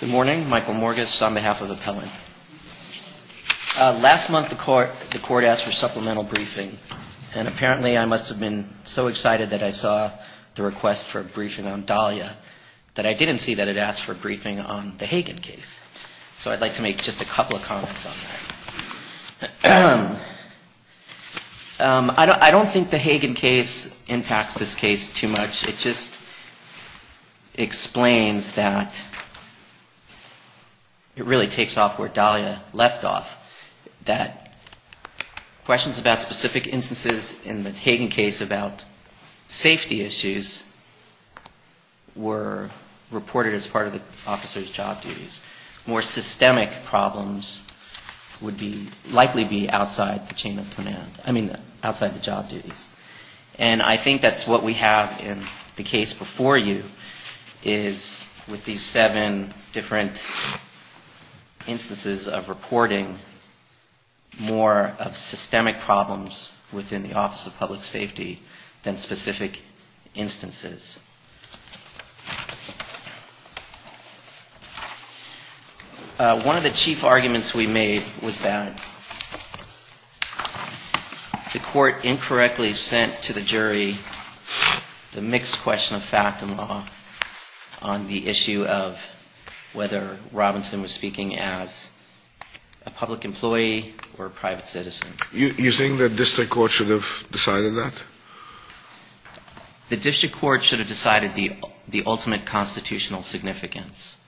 Good morning. Michael Morgish on behalf of Appellant. Last month the court asked for supplemental briefing, and apparently I must have been so excited that I saw the request for a briefing on Dahlia that I didn't see that it asked for a briefing on the Hagen case. So I'd like to make just a couple of comments on that. I don't think the Hagen case impacts this case too much. It just explains that it really takes off where Dahlia left off, that questions about specific instances in the Hagen case about safety issues were reported as part of the officer's job duties. More systemic problems would likely be outside the chain of command, I mean, outside the job duties. And I think that's what we have in the case before you, is with these seven different instances of reporting, more of systemic problems within the Office of Public Safety than specific instances. One of the chief arguments we made was that the court incorrectly sent to the jury the mixed question of fact and law on the issue of whether Robinson was speaking as a public employee or a private citizen. Do you think the district court should have decided that? The district court should have decided the ultimate constitutional significance.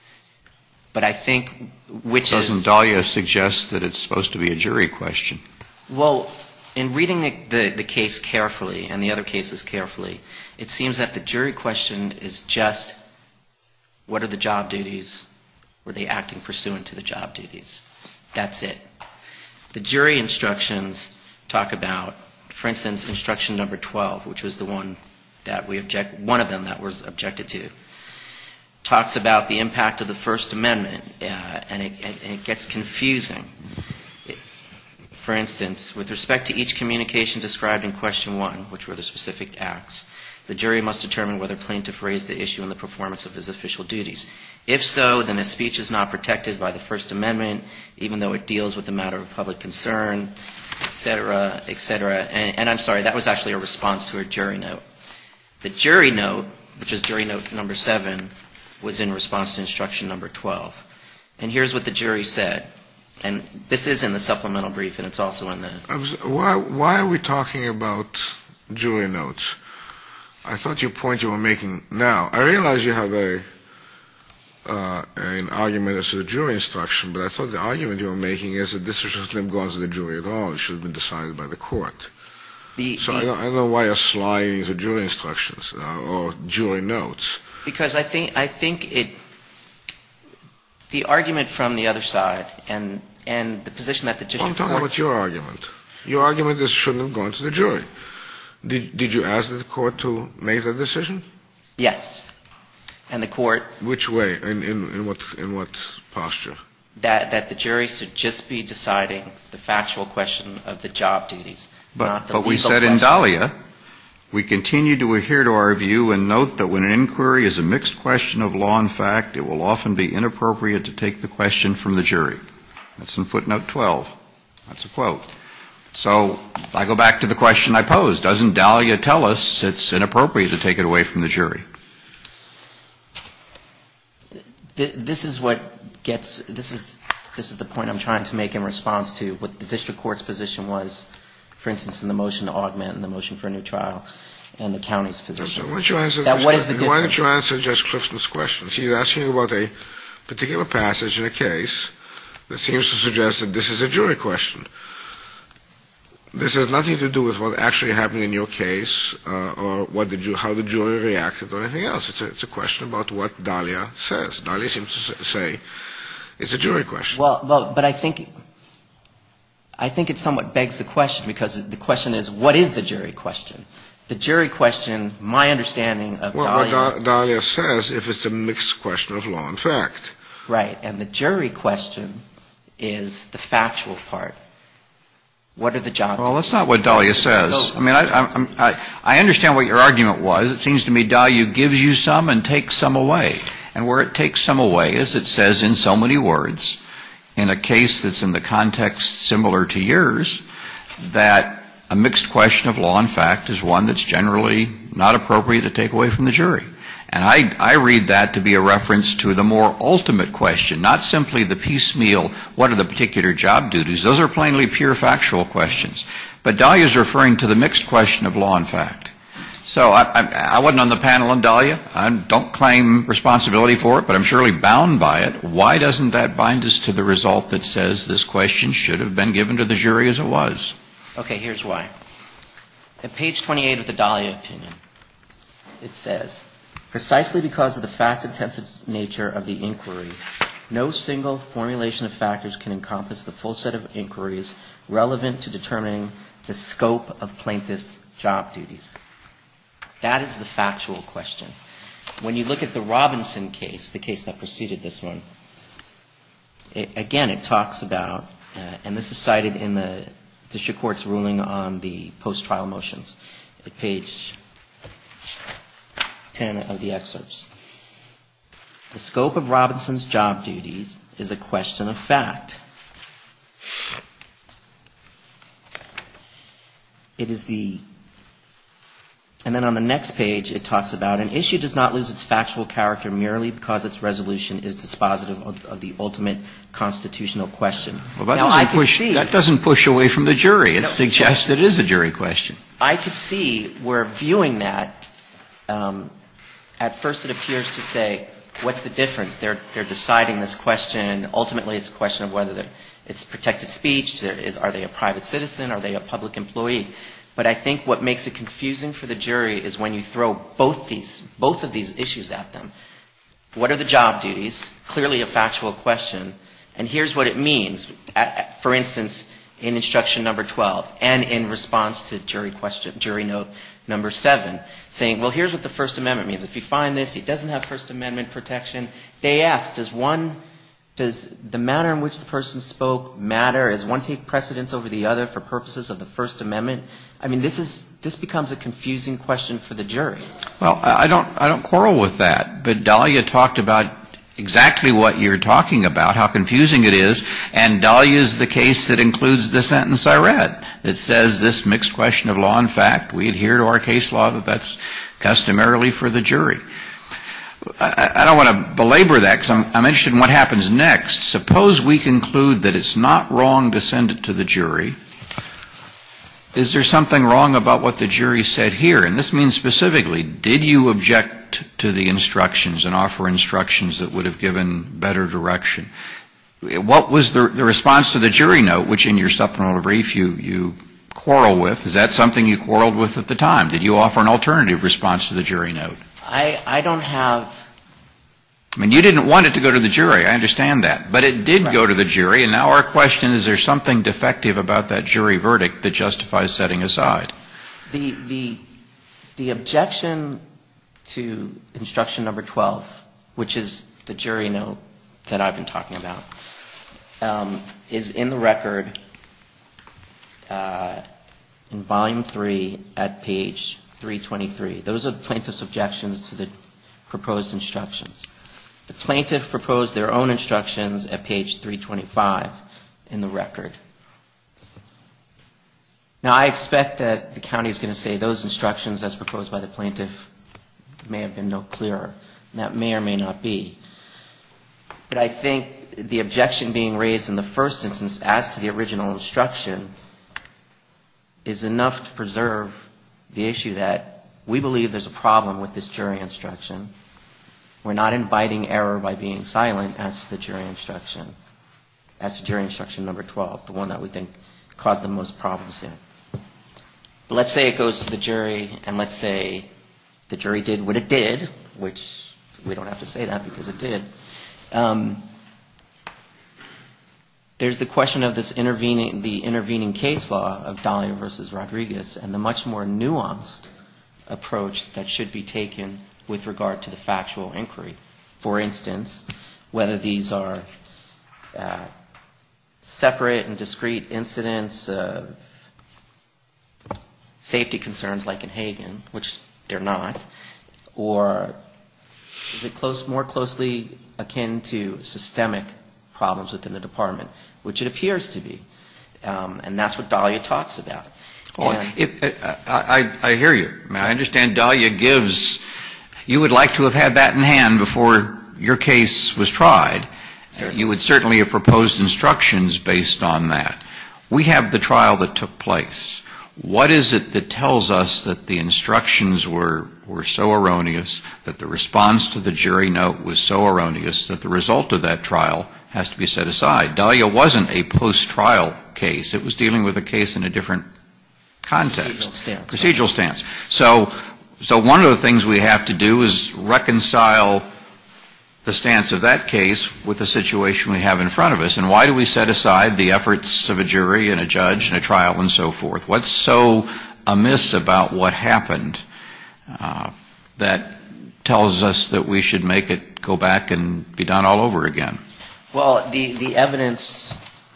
But I think which is — Doesn't Dahlia suggest that it's supposed to be a jury question? Well, in reading the case carefully and the other cases carefully, it seems that the jury question is just what are the job duties? Were they acting pursuant to the job duties? That's it. The jury instructions talk about, for instance, instruction number 12, which was the one that we object — one of them that was objected to, talks about the impact of the First Amendment, and it gets confusing. For instance, with respect to each communication described in question one, which were the specific acts, the jury must determine whether plaintiff raised the issue in the performance of his official duties. If so, then his speech is not protected by the First Amendment, even though it deals with the matter of public concern, et cetera, et cetera. And I'm sorry, that was actually a response to a jury note. The jury note, which is jury note number 7, was in response to instruction number 12. And here's what the jury said, and this is in the supplemental brief, and it's also in the — Why are we talking about jury notes? I thought your point you were making — now, I realize you have an argument as to the jury instruction, but I thought the argument you were making is that this shouldn't have gone to the jury at all. It should have been decided by the court. So I don't know why you're sliding to jury instructions or jury notes. Because I think it — the argument from the other side and the position that the district court — I'm talking about your argument. Your argument is it shouldn't have gone to the jury. Did you ask the court to make that decision? Yes. And the court — Which way? In what posture? That the jury should just be deciding the factual question of the job duties, not the legal question. But we said in Dahlia, we continue to adhere to our view and note that when an inquiry is a mixed question of law and fact, it will often be inappropriate to take the question from the jury. That's in footnote 12. That's a quote. So I go back to the question I posed. Doesn't Dahlia tell us it's inappropriate to take it away from the jury? This is what gets — this is the point I'm trying to make in response to what the district court's position was, for instance, in the motion to augment and the motion for a new trial and the county's position. What is the difference? Why don't you answer Judge Clifton's question? She's asking about a particular passage in a case that seems to suggest that this is a jury question. This has nothing to do with what actually happened in your case or what the — how the jury reacted or anything else. It's a question about what Dahlia says. Dahlia seems to say it's a jury question. Well, but I think — I think it somewhat begs the question because the question is what is the jury question? Well, what Dahlia says, if it's a mixed question of law and fact. Right. And the jury question is the factual part. What are the jobs? Well, that's not what Dahlia says. I mean, I understand what your argument was. It seems to me Dahlia gives you some and takes some away. And where it takes some away is it says in so many words, in a case that's in the context similar to yours, that a mixed question of law and fact is one that's generally not appropriate to take away from the jury. And I read that to be a reference to the more ultimate question, not simply the piecemeal what are the particular job duties. Those are plainly pure factual questions. But Dahlia is referring to the mixed question of law and fact. So I wasn't on the panel on Dahlia. I don't claim responsibility for it, but I'm surely bound by it. Why doesn't that bind us to the result that says this question should have been given to the jury as it was? Okay. Here's why. At page 28 of the Dahlia opinion, it says, precisely because of the fact-intensive nature of the inquiry, no single formulation of factors can encompass the full set of inquiries relevant to determining the scope of plaintiffs' job duties. That is the factual question. When you look at the Robinson case, the case that preceded this one, again, it talks about, and this is cited in the district court's ruling on the post-trial motions at page 10 of the excerpts. The scope of Robinson's job duties is a question of fact. It is the — and then on the next page, it talks about an issue does not lose its factual character merely because its resolution is dispositive of the ultimate constitutional question. Now, I could see — That doesn't push away from the jury. It suggests that it is a jury question. I could see where viewing that, at first it appears to say, what's the difference? They're deciding this question. Ultimately, it's a question of whether it's protected speech. Are they a private citizen? Are they a public employee? But I think what makes it confusing for the jury is when you throw both of these issues at them. What are the job duties? Clearly a factual question. And here's what it means. For instance, in instruction number 12, and in response to jury note number 7, saying, well, here's what the First Amendment means. If you find this, it doesn't have First Amendment protection. They ask, does one — does the manner in which the person spoke matter? Does one take precedence over the other for purposes of the First Amendment? I mean, this is — this becomes a confusing question for the jury. Well, I don't quarrel with that. But Dahlia talked about exactly what you're talking about, how confusing it is. And Dahlia's the case that includes the sentence I read that says this mixed question of law and fact. We adhere to our case law that that's customarily for the jury. I don't want to belabor that because I'm interested in what happens next. Suppose we conclude that it's not wrong to send it to the jury. Is there something wrong about what the jury said here? And this means specifically, did you object to the instructions and offer instructions that would have given better direction? What was the response to the jury note, which in your supplemental brief you quarrel with? Is that something you quarreled with at the time? Did you offer an alternative response to the jury note? I don't have — I mean, you didn't want it to go to the jury. I understand that. But it did go to the jury. And now our question, is there something defective about that jury verdict that justifies setting aside? The objection to instruction number 12, which is the jury note that I've been talking about, is in the record in volume 3 at page 323. Those are the plaintiff's objections to the proposed instructions. The plaintiff proposed their own instructions at page 325 in the record. Now, I expect that the county is going to say those instructions as proposed by the plaintiff may have been no clearer. That may or may not be. But I think the objection being raised in the first instance as to the original instruction is enough to preserve the issue that we believe there's a problem with this jury instruction. We're not inviting error by being silent as to jury instruction, as to jury instruction number 12. The one that we think caused the most problems here. But let's say it goes to the jury, and let's say the jury did what it did, which we don't have to say that because it did. There's the question of this intervening — the intervening case law of Dalia v. Rodriguez, and the much more nuanced approach that should be taken with regard to the factual inquiry. For instance, whether these are separate and discrete incidents of safety concerns like in Hagen, which they're not, or is it more closely akin to systemic problems within the department, which it appears to be. And that's what Dalia talks about. I hear you. I understand Dalia gives — you would like to have had that in hand before your case was tried. You would certainly have proposed instructions based on that. We have the trial that took place. What is it that tells us that the instructions were so erroneous, that the response to the jury note was so erroneous, that the result of that trial has to be set aside? Dalia wasn't a post-trial case. It was dealing with a case in a different context. Procedural stance. Procedural stance. So one of the things we have to do is reconcile the stance of that case with the situation we have in front of us. And why do we set aside the efforts of a jury and a judge and a trial and so forth? What's so amiss about what happened that tells us that we should make it go back and be done all over again? Well, the evidence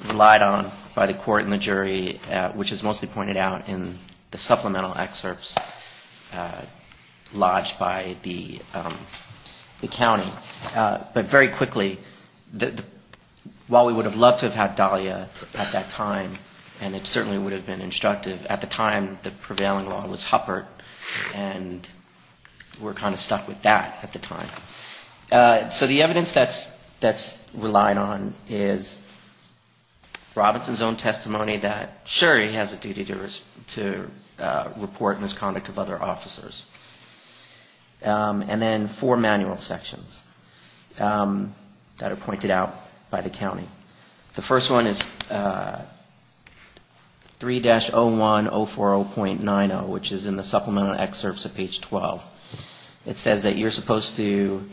relied on by the court and the jury, which is mostly pointed out in the supplemental excerpts lodged by the county. But very quickly, while we would have loved to have had Dalia at that time, and it certainly would have been instructive, at the time the prevailing law was Huppert. And we're kind of stuck with that at the time. So the evidence that's relied on is Robinson's own testimony that, sure, he has a duty to report misconduct of other officers. And then four manual sections that are pointed out by the county. The first one is 3-01040.90, which is in the supplemental excerpts at page 12. It says that you're supposed to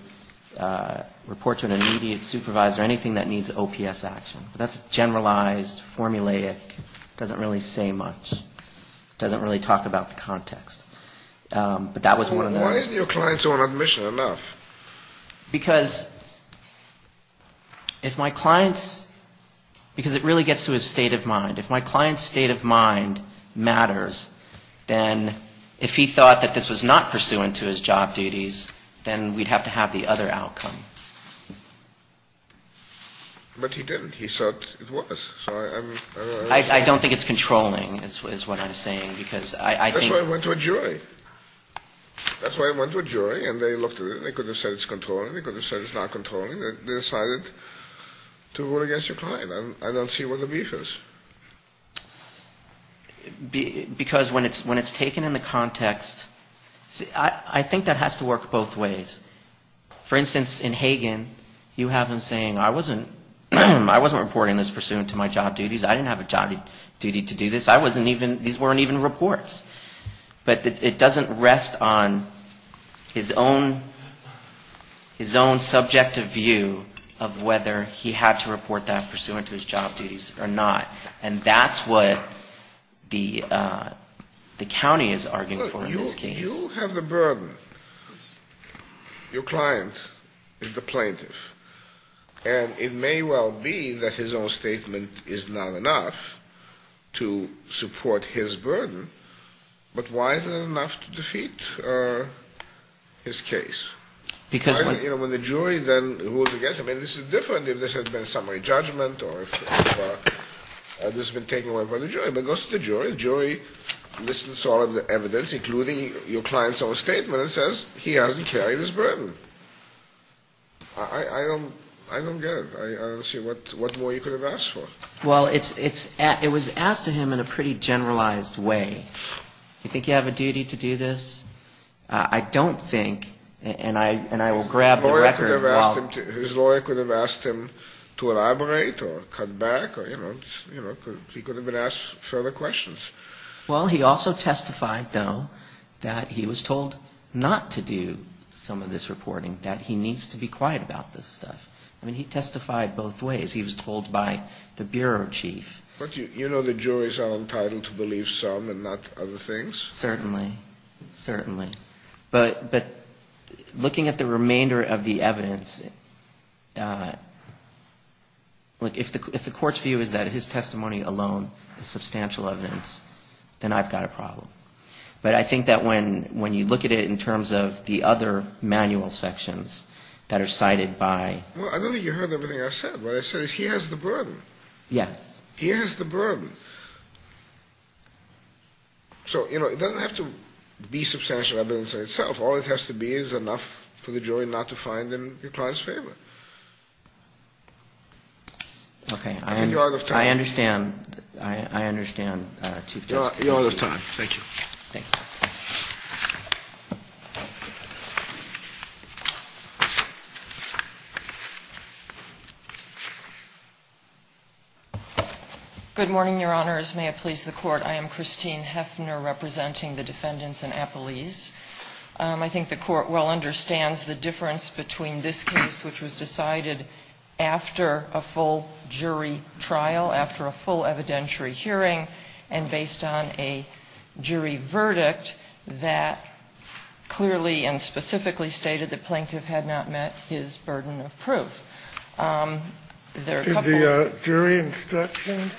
report to an immediate supervisor anything that needs OPS action. But that's generalized, formulaic, doesn't really say much. It doesn't really talk about the context. But that was one of the other ones. Why isn't your client's own admission enough? Because if my client's, because it really gets to his state of mind. If my client's state of mind matters, then if he thought that this was not pursuant to his job duties, then we'd have to have the other outcome. But he didn't. He said it was. I don't think it's controlling, is what I'm saying. Because I think... That's why it went to a jury. That's why it went to a jury. And they looked at it. They couldn't have said it's controlling. They couldn't have said it's not controlling. They decided to rule against your client. I don't see where the beef is. Because when it's taken in the context, I think that has to work both ways. For instance, in Hagen, you have him saying, I wasn't reporting this pursuant to my job duties. I didn't have a job duty to do this. I wasn't even, these weren't even reports. But it doesn't rest on his own subjective view of whether he had to report that pursuant to his job duties or not. And that's what the county is arguing for in this case. You have the burden. Your client is the plaintiff. And it may well be that his own statement is not enough to support his burden. But why is it not enough to defeat his case? You know, when the jury then rules against him, and this is different if this has been a summary judgment or if this has been taken away by the jury. But it goes to the jury. The jury listens to all of the evidence, including your client's own statement, and says he hasn't carried his burden. I don't get it. I don't see what more you could have asked for. Well, it was asked of him in a pretty generalized way. You think you have a duty to do this? I don't think, and I will grab the record. His lawyer could have asked him to elaborate or cut back or, you know, he could have been asked further questions. Well, he also testified, though, that he was told not to do some of this reporting, that he needs to be quiet about this stuff. I mean, he testified both ways. He was told by the bureau chief. But you know the juries are entitled to believe some and not other things? Certainly. Certainly. But looking at the remainder of the evidence, look, if the court's view is that his testimony alone is substantial evidence, then I've got a problem. But I think that when you look at it in terms of the other manual sections that are cited by — Well, I don't think you heard everything I said. What I said is he has the burden. Yes. He has the burden. So, you know, it doesn't have to be substantial evidence in itself. All it has to be is enough for the jury not to find in your client's favor. Okay. I think you're out of time. I understand. I understand, Chief Justice. You're out of time. Thank you. Thanks. Thank you. Good morning, Your Honors. May it please the Court. I am Christine Heffner, representing the defendants in Appelese. I think the Court well understands the difference between this case, which was decided after a full jury trial, after a full evidentiary hearing, and based on a jury verdict that clearly and specifically stated the plaintiff had not met his burden of proof. Did the jury instructions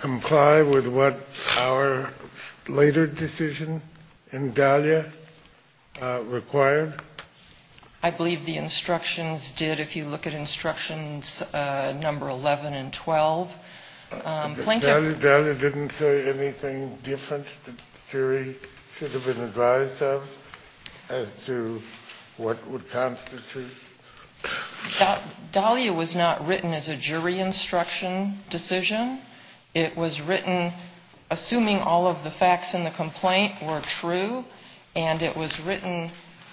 comply with what our later decision in Dahlia required? I believe the instructions did, if you look at instructions number 11 and 12. Dahlia didn't say anything different that the jury should have been advised of as to what would constitute? Dahlia was not written as a jury instruction decision. It was written assuming all of the facts in the complaint were true, and it was written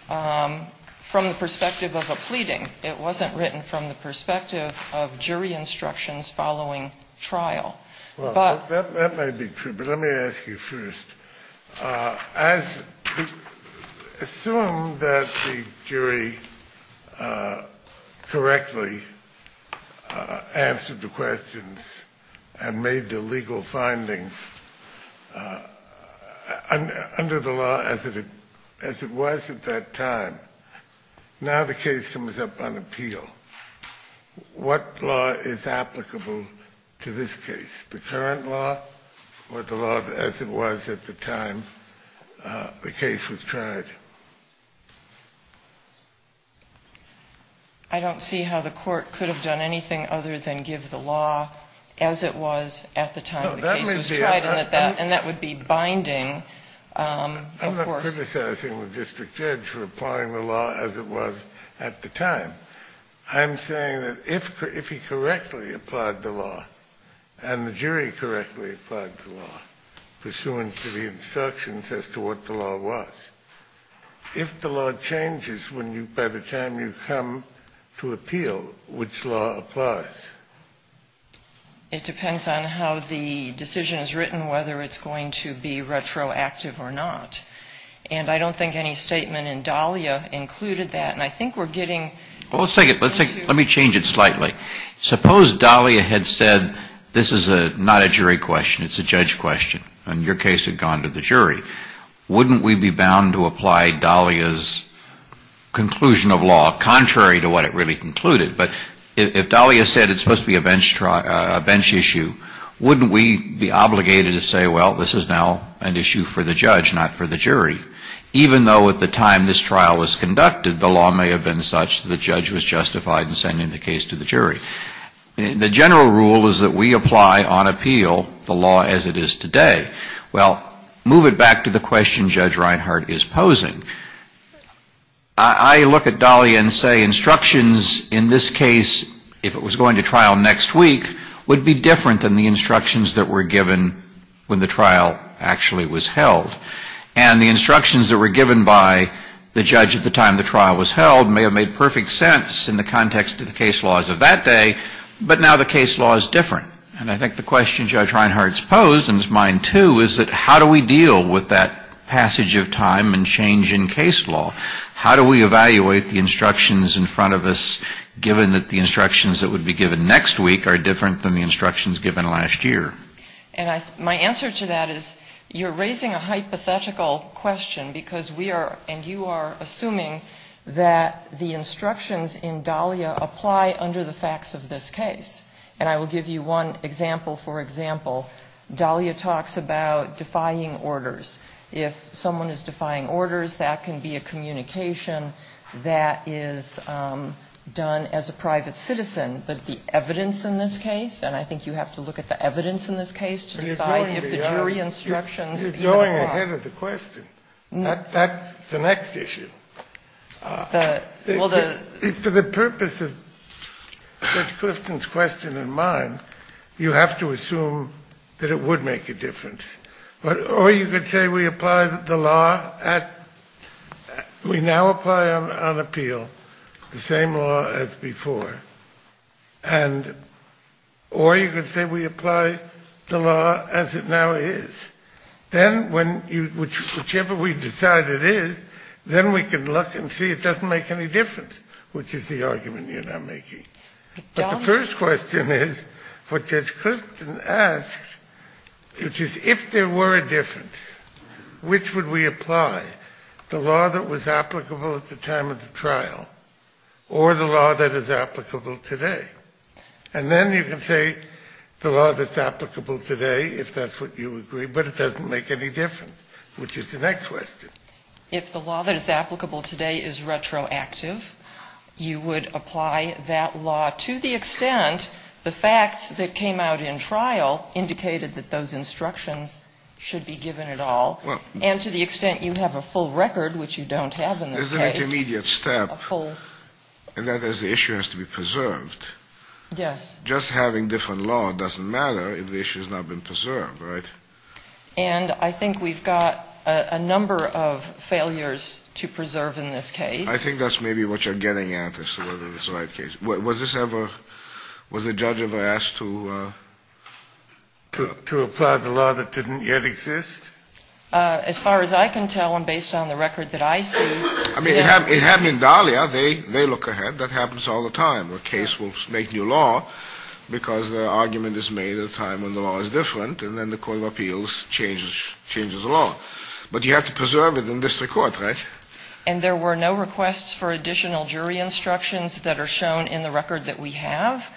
from the perspective of a pleading. It wasn't written from the perspective of jury instructions following trial. That may be true, but let me ask you first. Assume that the jury correctly answered the questions and made the legal findings under the law as it was at that time. Now the case comes up on appeal. What law is applicable to this case? The current law or the law as it was at the time the case was tried? I don't see how the Court could have done anything other than give the law as it was at the time the case was tried, and that would be binding, of course. I'm not criticizing the district judge for applying the law as it was at the time. I'm saying that if he correctly applied the law and the jury correctly applied the law pursuant to the instructions as to what the law was, if the law changes when you, by the time you come to appeal, which law applies? It depends on how the decision is written, whether it's going to be retroactive or not, and I don't think any statement in Dahlia included that, and I think we're getting Well, let's take it, let me change it slightly. Suppose Dahlia had said this is not a jury question, it's a judge question, and your case had gone to the jury. Wouldn't we be bound to apply Dahlia's conclusion of law contrary to what it really concluded? But if Dahlia said it's supposed to be a bench issue, wouldn't we be obligated to say, well, this is now an issue for the judge, not for the jury? Even though at the time this trial was conducted, the law may have been such that the judge was justified in sending the case to the jury. The general rule is that we apply on appeal the law as it is today. Well, move it back to the question Judge Reinhart is posing. I look at Dahlia and say instructions in this case, if it was going to trial next week, would be different than the instructions that were given when the trial actually was held. And the instructions that were given by the judge at the time the trial was held may have made perfect sense in the context of the case laws of that day, but now the case law is different. And I think the question Judge Reinhart's posed, and it's mine too, is that how do we deal with that passage of time and change of law? How do we evaluate the instructions in front of us, given that the instructions that would be given next week are different than the instructions given last year? And my answer to that is you're raising a hypothetical question because we are, and you are, assuming that the instructions in Dahlia apply under the facts of this case. And I will give you one example. For example, Dahlia talks about defying orders. If someone is defying orders, that can be a communication that is done as a private citizen. But the evidence in this case, and I think you have to look at the evidence in this case to decide if the jury instructions even apply. Scalia. You're going ahead of the question. That's the next issue. For the purpose of Judge Clifton's question and mine, you have to assume that it would make a difference. Or you could say we apply the law at, we now apply on appeal the same law as before. And, or you could say we apply the law as it now is. Then, whichever we decide it is, then we can look and see it doesn't make any difference, which is the argument you're now making. But the first question is what Judge Clifton asked, which is if there were a difference, which would we apply? The law that was applicable at the time of the trial or the law that is applicable today? And then you can say the law that's applicable today, if that's what you agree, but it doesn't make any difference, which is the next question. If the law that is applicable today is retroactive, you would apply that law to the extent the facts that came out in trial indicated that those instructions should be given at all. And to the extent you have a full record, which you don't have in this case. There's an intermediate step. A full. And that is the issue has to be preserved. Yes. Just having different law doesn't matter if the issue has not been preserved, right? And I think we've got a number of failures to preserve in this case. I think that's maybe what you're getting at as to whether this is the right case. Was this ever, was the judge ever asked to apply the law that didn't yet exist? As far as I can tell, and based on the record that I see, yes. I mean, it happened in Dahlia. They look ahead. That happens all the time. A case will make new law because the argument is made at a time when the law is different, and then the court of appeals changes the law. But you have to preserve it in district court, right? And there were no requests for additional jury instructions that are shown in the record that we have.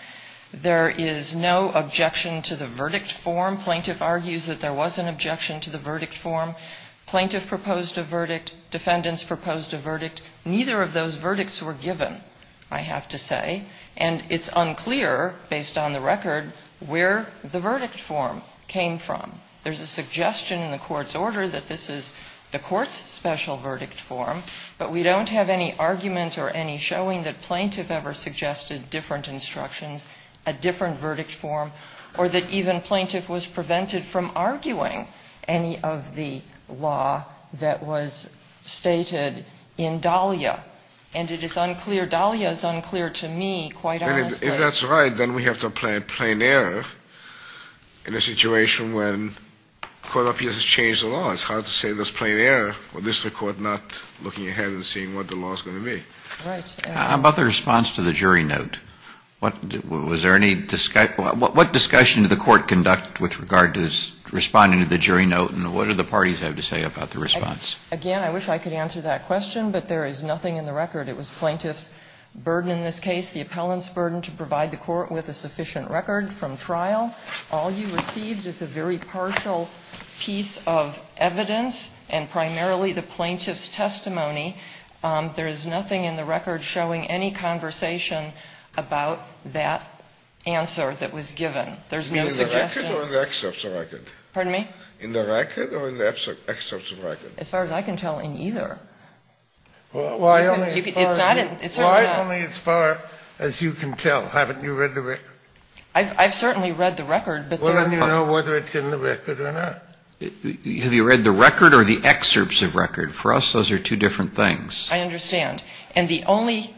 There is no objection to the verdict form. Plaintiff argues that there was an objection to the verdict form. Plaintiff proposed a verdict. Defendants proposed a verdict. Neither of those verdicts were given, I have to say. And it's unclear, based on the record, where the verdict form came from. There's a suggestion in the court's order that this is the court's special verdict form. But we don't have any argument or any showing that plaintiff ever suggested different instructions, a different verdict form, or that even plaintiff was prevented from arguing any of the law that was stated in Dahlia. And it is unclear. Dahlia is unclear to me, quite honestly. If that's right, then we have to apply plain error in a situation when court of appeals has changed the law. It's hard to say there's plain error with district court not looking ahead and seeing what the law is going to be. Right. How about the response to the jury note? Was there any discussion? What discussion did the court conduct with regard to responding to the jury note, and what did the parties have to say about the response? Again, I wish I could answer that question, but there is nothing in the record. It was plaintiff's burden in this case, the appellant's burden to provide the court with a sufficient record from trial. All you received is a very partial piece of evidence and primarily the plaintiff's testimony. There is nothing in the record showing any conversation about that answer that was given. There's no suggestion. In the record or in the excerpts of record? Pardon me? In the record or in the excerpts of record? As far as I can tell, in either. Why only as far as you can tell? Haven't you read the record? I've certainly read the record. Well, then you know whether it's in the record or not. Have you read the record or the excerpts of record? For us, those are two different things. I understand. And the only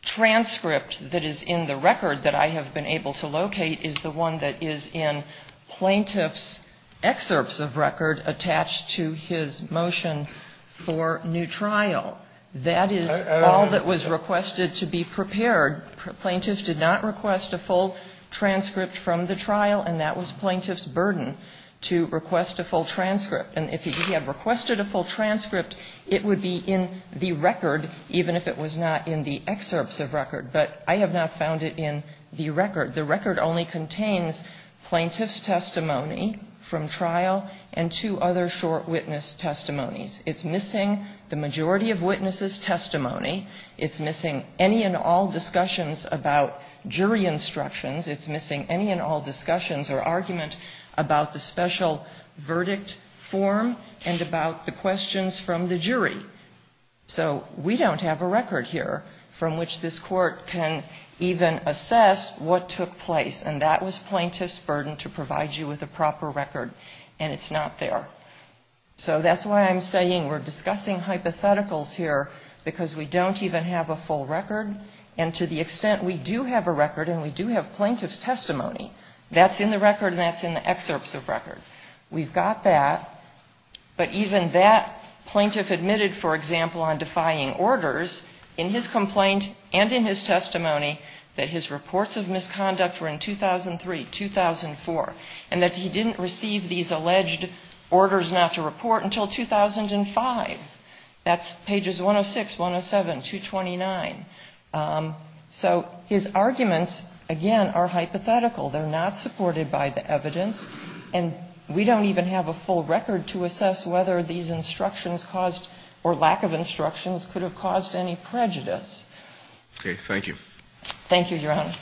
transcript that is in the record that I have been able to locate is the one that is in plaintiff's excerpts of record attached to his motion for new trial. That is all that was requested to be prepared. Plaintiff did not request a full transcript from the trial, and that was plaintiff's burden to request a full transcript. And if he had requested a full transcript, it would be in the record, even if it was not in the excerpts of record. But I have not found it in the record. The record only contains plaintiff's testimony from trial and two other short witness testimonies. It's missing the majority of witnesses' testimony. It's missing any and all discussions about jury instructions. It's missing any and all discussions or argument about the special verdict form and about the questions from the jury. So we don't have a record here from which this Court can even assess what took place. And that was plaintiff's burden to provide you with a proper record, and it's not there. So that's why I'm saying we're discussing hypotheticals here, because we don't even have a full record. And to the extent we do have a record, and we do have plaintiff's testimony, that's in the record and that's in the excerpts of record. We've got that. But even that plaintiff admitted, for example, on defying orders in his complaint and in his testimony that his reports of misconduct were in 2003, 2004, and that he didn't receive these alleged orders not to report until 2005. That's pages 106, 107, 229. So his arguments, again, are hypothetical. They're not supported by the evidence. And we don't even have a full record to assess whether these instructions caused or lack of instructions could have caused any prejudice. Okay. Thank you. Thank you, Your Honor.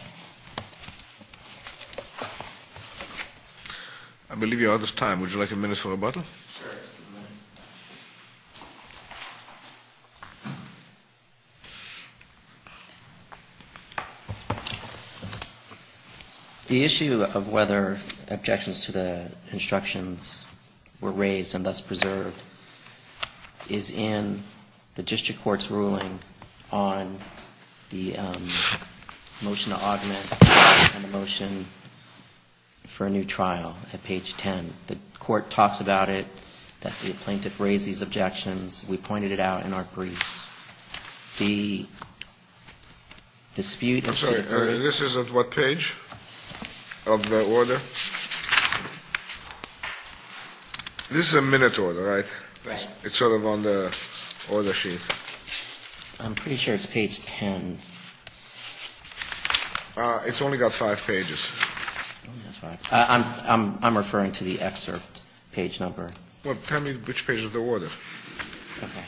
I believe you're out of time. Would you like a minute for rebuttal? Sure. The issue of whether objections to the instructions were raised and thus preserved is in the district court's ruling on the motion to augment and the motion for a new trial at page 10. The court talks about it. The plaintiff raised these objections. We pointed it out in our briefs. The dispute is to the court. I'm sorry. This is at what page of the order? This is a minute order, right? Right. It's sort of on the order sheet. I'm pretty sure it's page 10. It's only got five pages. I'm referring to the excerpt page number. Well, tell me which page of the order. Okay.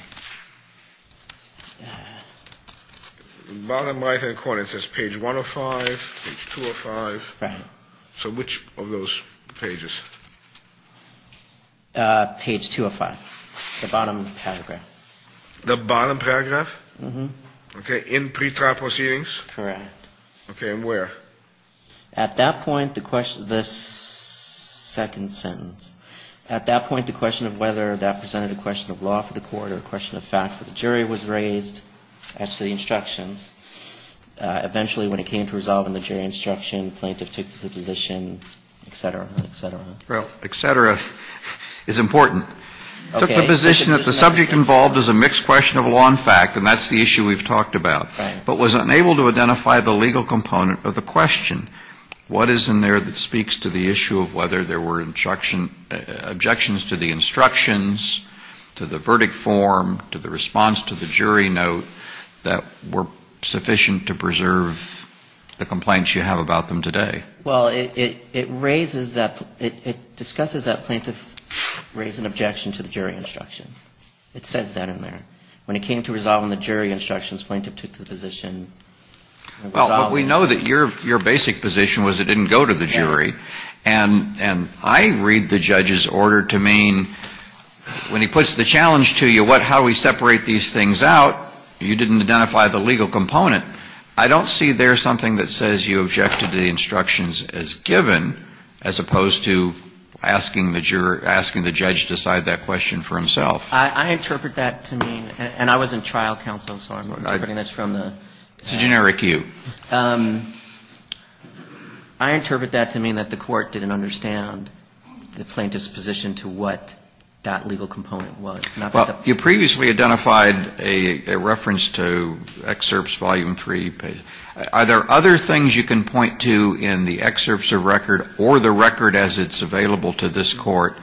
Bottom right-hand corner, it says page 105, page 205. Right. So which of those pages? Page 205, the bottom paragraph. The bottom paragraph? Mm-hmm. Okay. In pretrial proceedings? Correct. Okay. And where? At that point, the second sentence. At that point, the question of whether that presented a question of law for the court or a question of fact for the jury was raised as to the instructions. Eventually, when it came to resolving the jury instruction, the plaintiff took the position, et cetera, et cetera. Well, et cetera is important. Okay. Took the position that the subject involved is a mixed question of law and fact, and that's the issue we've talked about. Right. But was unable to identify the legal component of the question. What is in there that speaks to the issue of whether there were objections to the instructions, to the verdict form, to the response to the jury note that were sufficient to preserve the complaints you have about them today? Well, it raises that, it discusses that plaintiff raised an objection to the jury instruction. It says that in there. When it came to resolving the jury instructions, plaintiff took the position. Well, we know that your basic position was it didn't go to the jury. And I read the judge's order to mean when he puts the challenge to you, how do we separate these things out, you didn't identify the legal component. I don't see there something that says you objected to the instructions as given, as opposed to asking the judge to decide that question for himself. I interpret that to mean, and I was in trial counsel, so I'm interpreting this from the... It's a generic you. I interpret that to mean that the court didn't understand the plaintiff's position to what that legal component was. Well, you previously identified a reference to excerpts volume three. Are there other things you can point to in the excerpts of record or the record as it's available to this court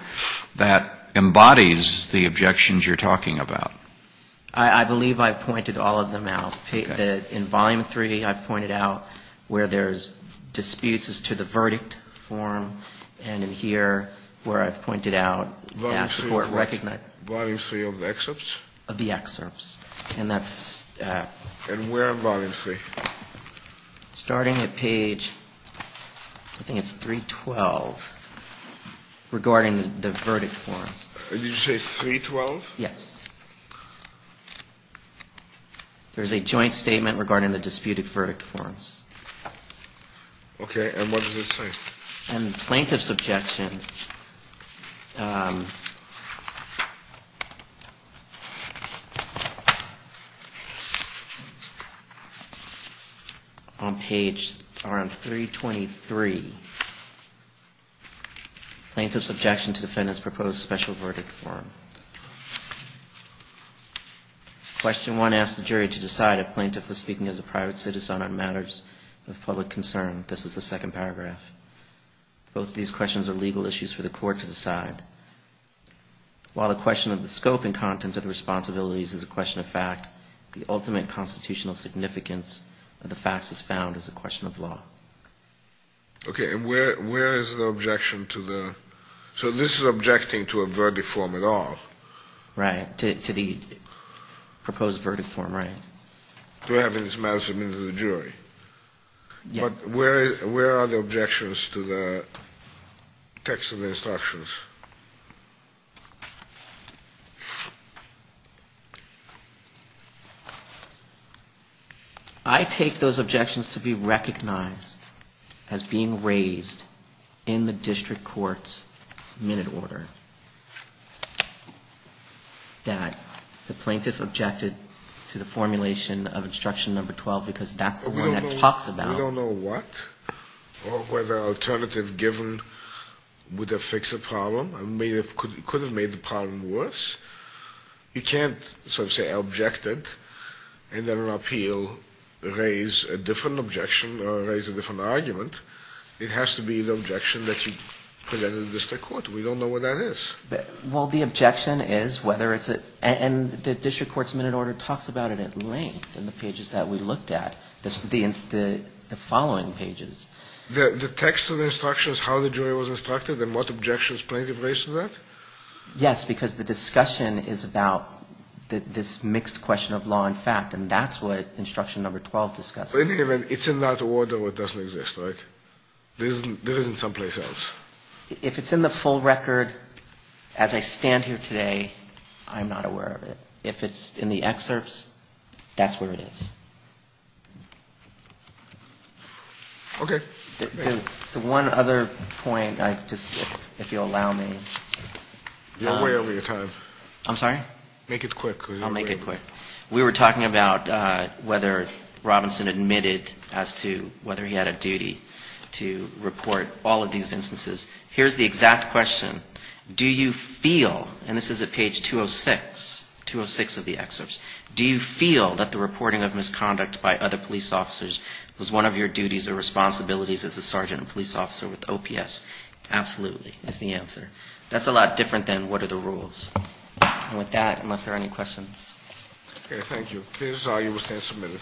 that embodies the objections you're talking about? I believe I've pointed all of them out. In volume three, I've pointed out where there's disputes as to the verdict form. And in here, where I've pointed out... Volume three of what? Volume three of the excerpts? Of the excerpts. And that's... And where in volume three? Starting at page, I think it's 312, regarding the verdict forms. Did you say 312? Yes. There's a joint statement regarding the disputed verdict forms. Okay, and what does it say? In plaintiff's objection... On page 323, plaintiff's objection to defendant's proposed special verdict form. Question one asks the jury to decide if plaintiff was speaking as a private citizen on matters of public concern. This is the second paragraph. Both of these questions are legal issues for the court to decide. While the question of the scope and content of the responsibilities is a question of fact, the ultimate constitutional significance of the facts is found as a question of law. Okay, and where is the objection to the... So this is objecting to a verdict form at all. Right, to the proposed verdict form, right. To having this matter submitted to the jury. Yes. But where are the objections to the text of the instructions? I take those objections to be recognized as being raised in the district court's minute order that the plaintiff objected to the formulation of instruction number 12 because that's the one that talks about... We don't know what or whether alternative given would have fixed the problem and could have made the problem worse. You can't sort of say objected and then appeal, raise a different objection or raise a different argument. It has to be the objection that you present in the district court. We don't know what that is. Well, the objection is whether it's a... And the district court's minute order talks about it at length in the pages that we looked at, the following pages. The text of the instructions, how the jury was instructed and what objections plaintiff raised to that? Yes, because the discussion is about this mixed question of law and fact, and that's what instruction number 12 discusses. It's in that order what doesn't exist, right? There isn't someplace else. If it's in the full record as I stand here today, I'm not aware of it. If it's in the excerpts, that's where it is. Okay. The one other point, if you'll allow me. You're way over your time. I'm sorry? Make it quick. I'll make it quick. We were talking about whether Robinson admitted as to whether he had a duty to report all of these instances. Here's the exact question. Do you feel, and this is at page 206, 206 of the excerpts. Do you feel that the reporting of misconduct by other police officers was one of your duties or responsibilities as a sergeant and police officer with OPS? Absolutely, is the answer. That's a lot different than what are the rules. And with that, unless there are any questions. Okay, thank you. Please, you will stand submitted.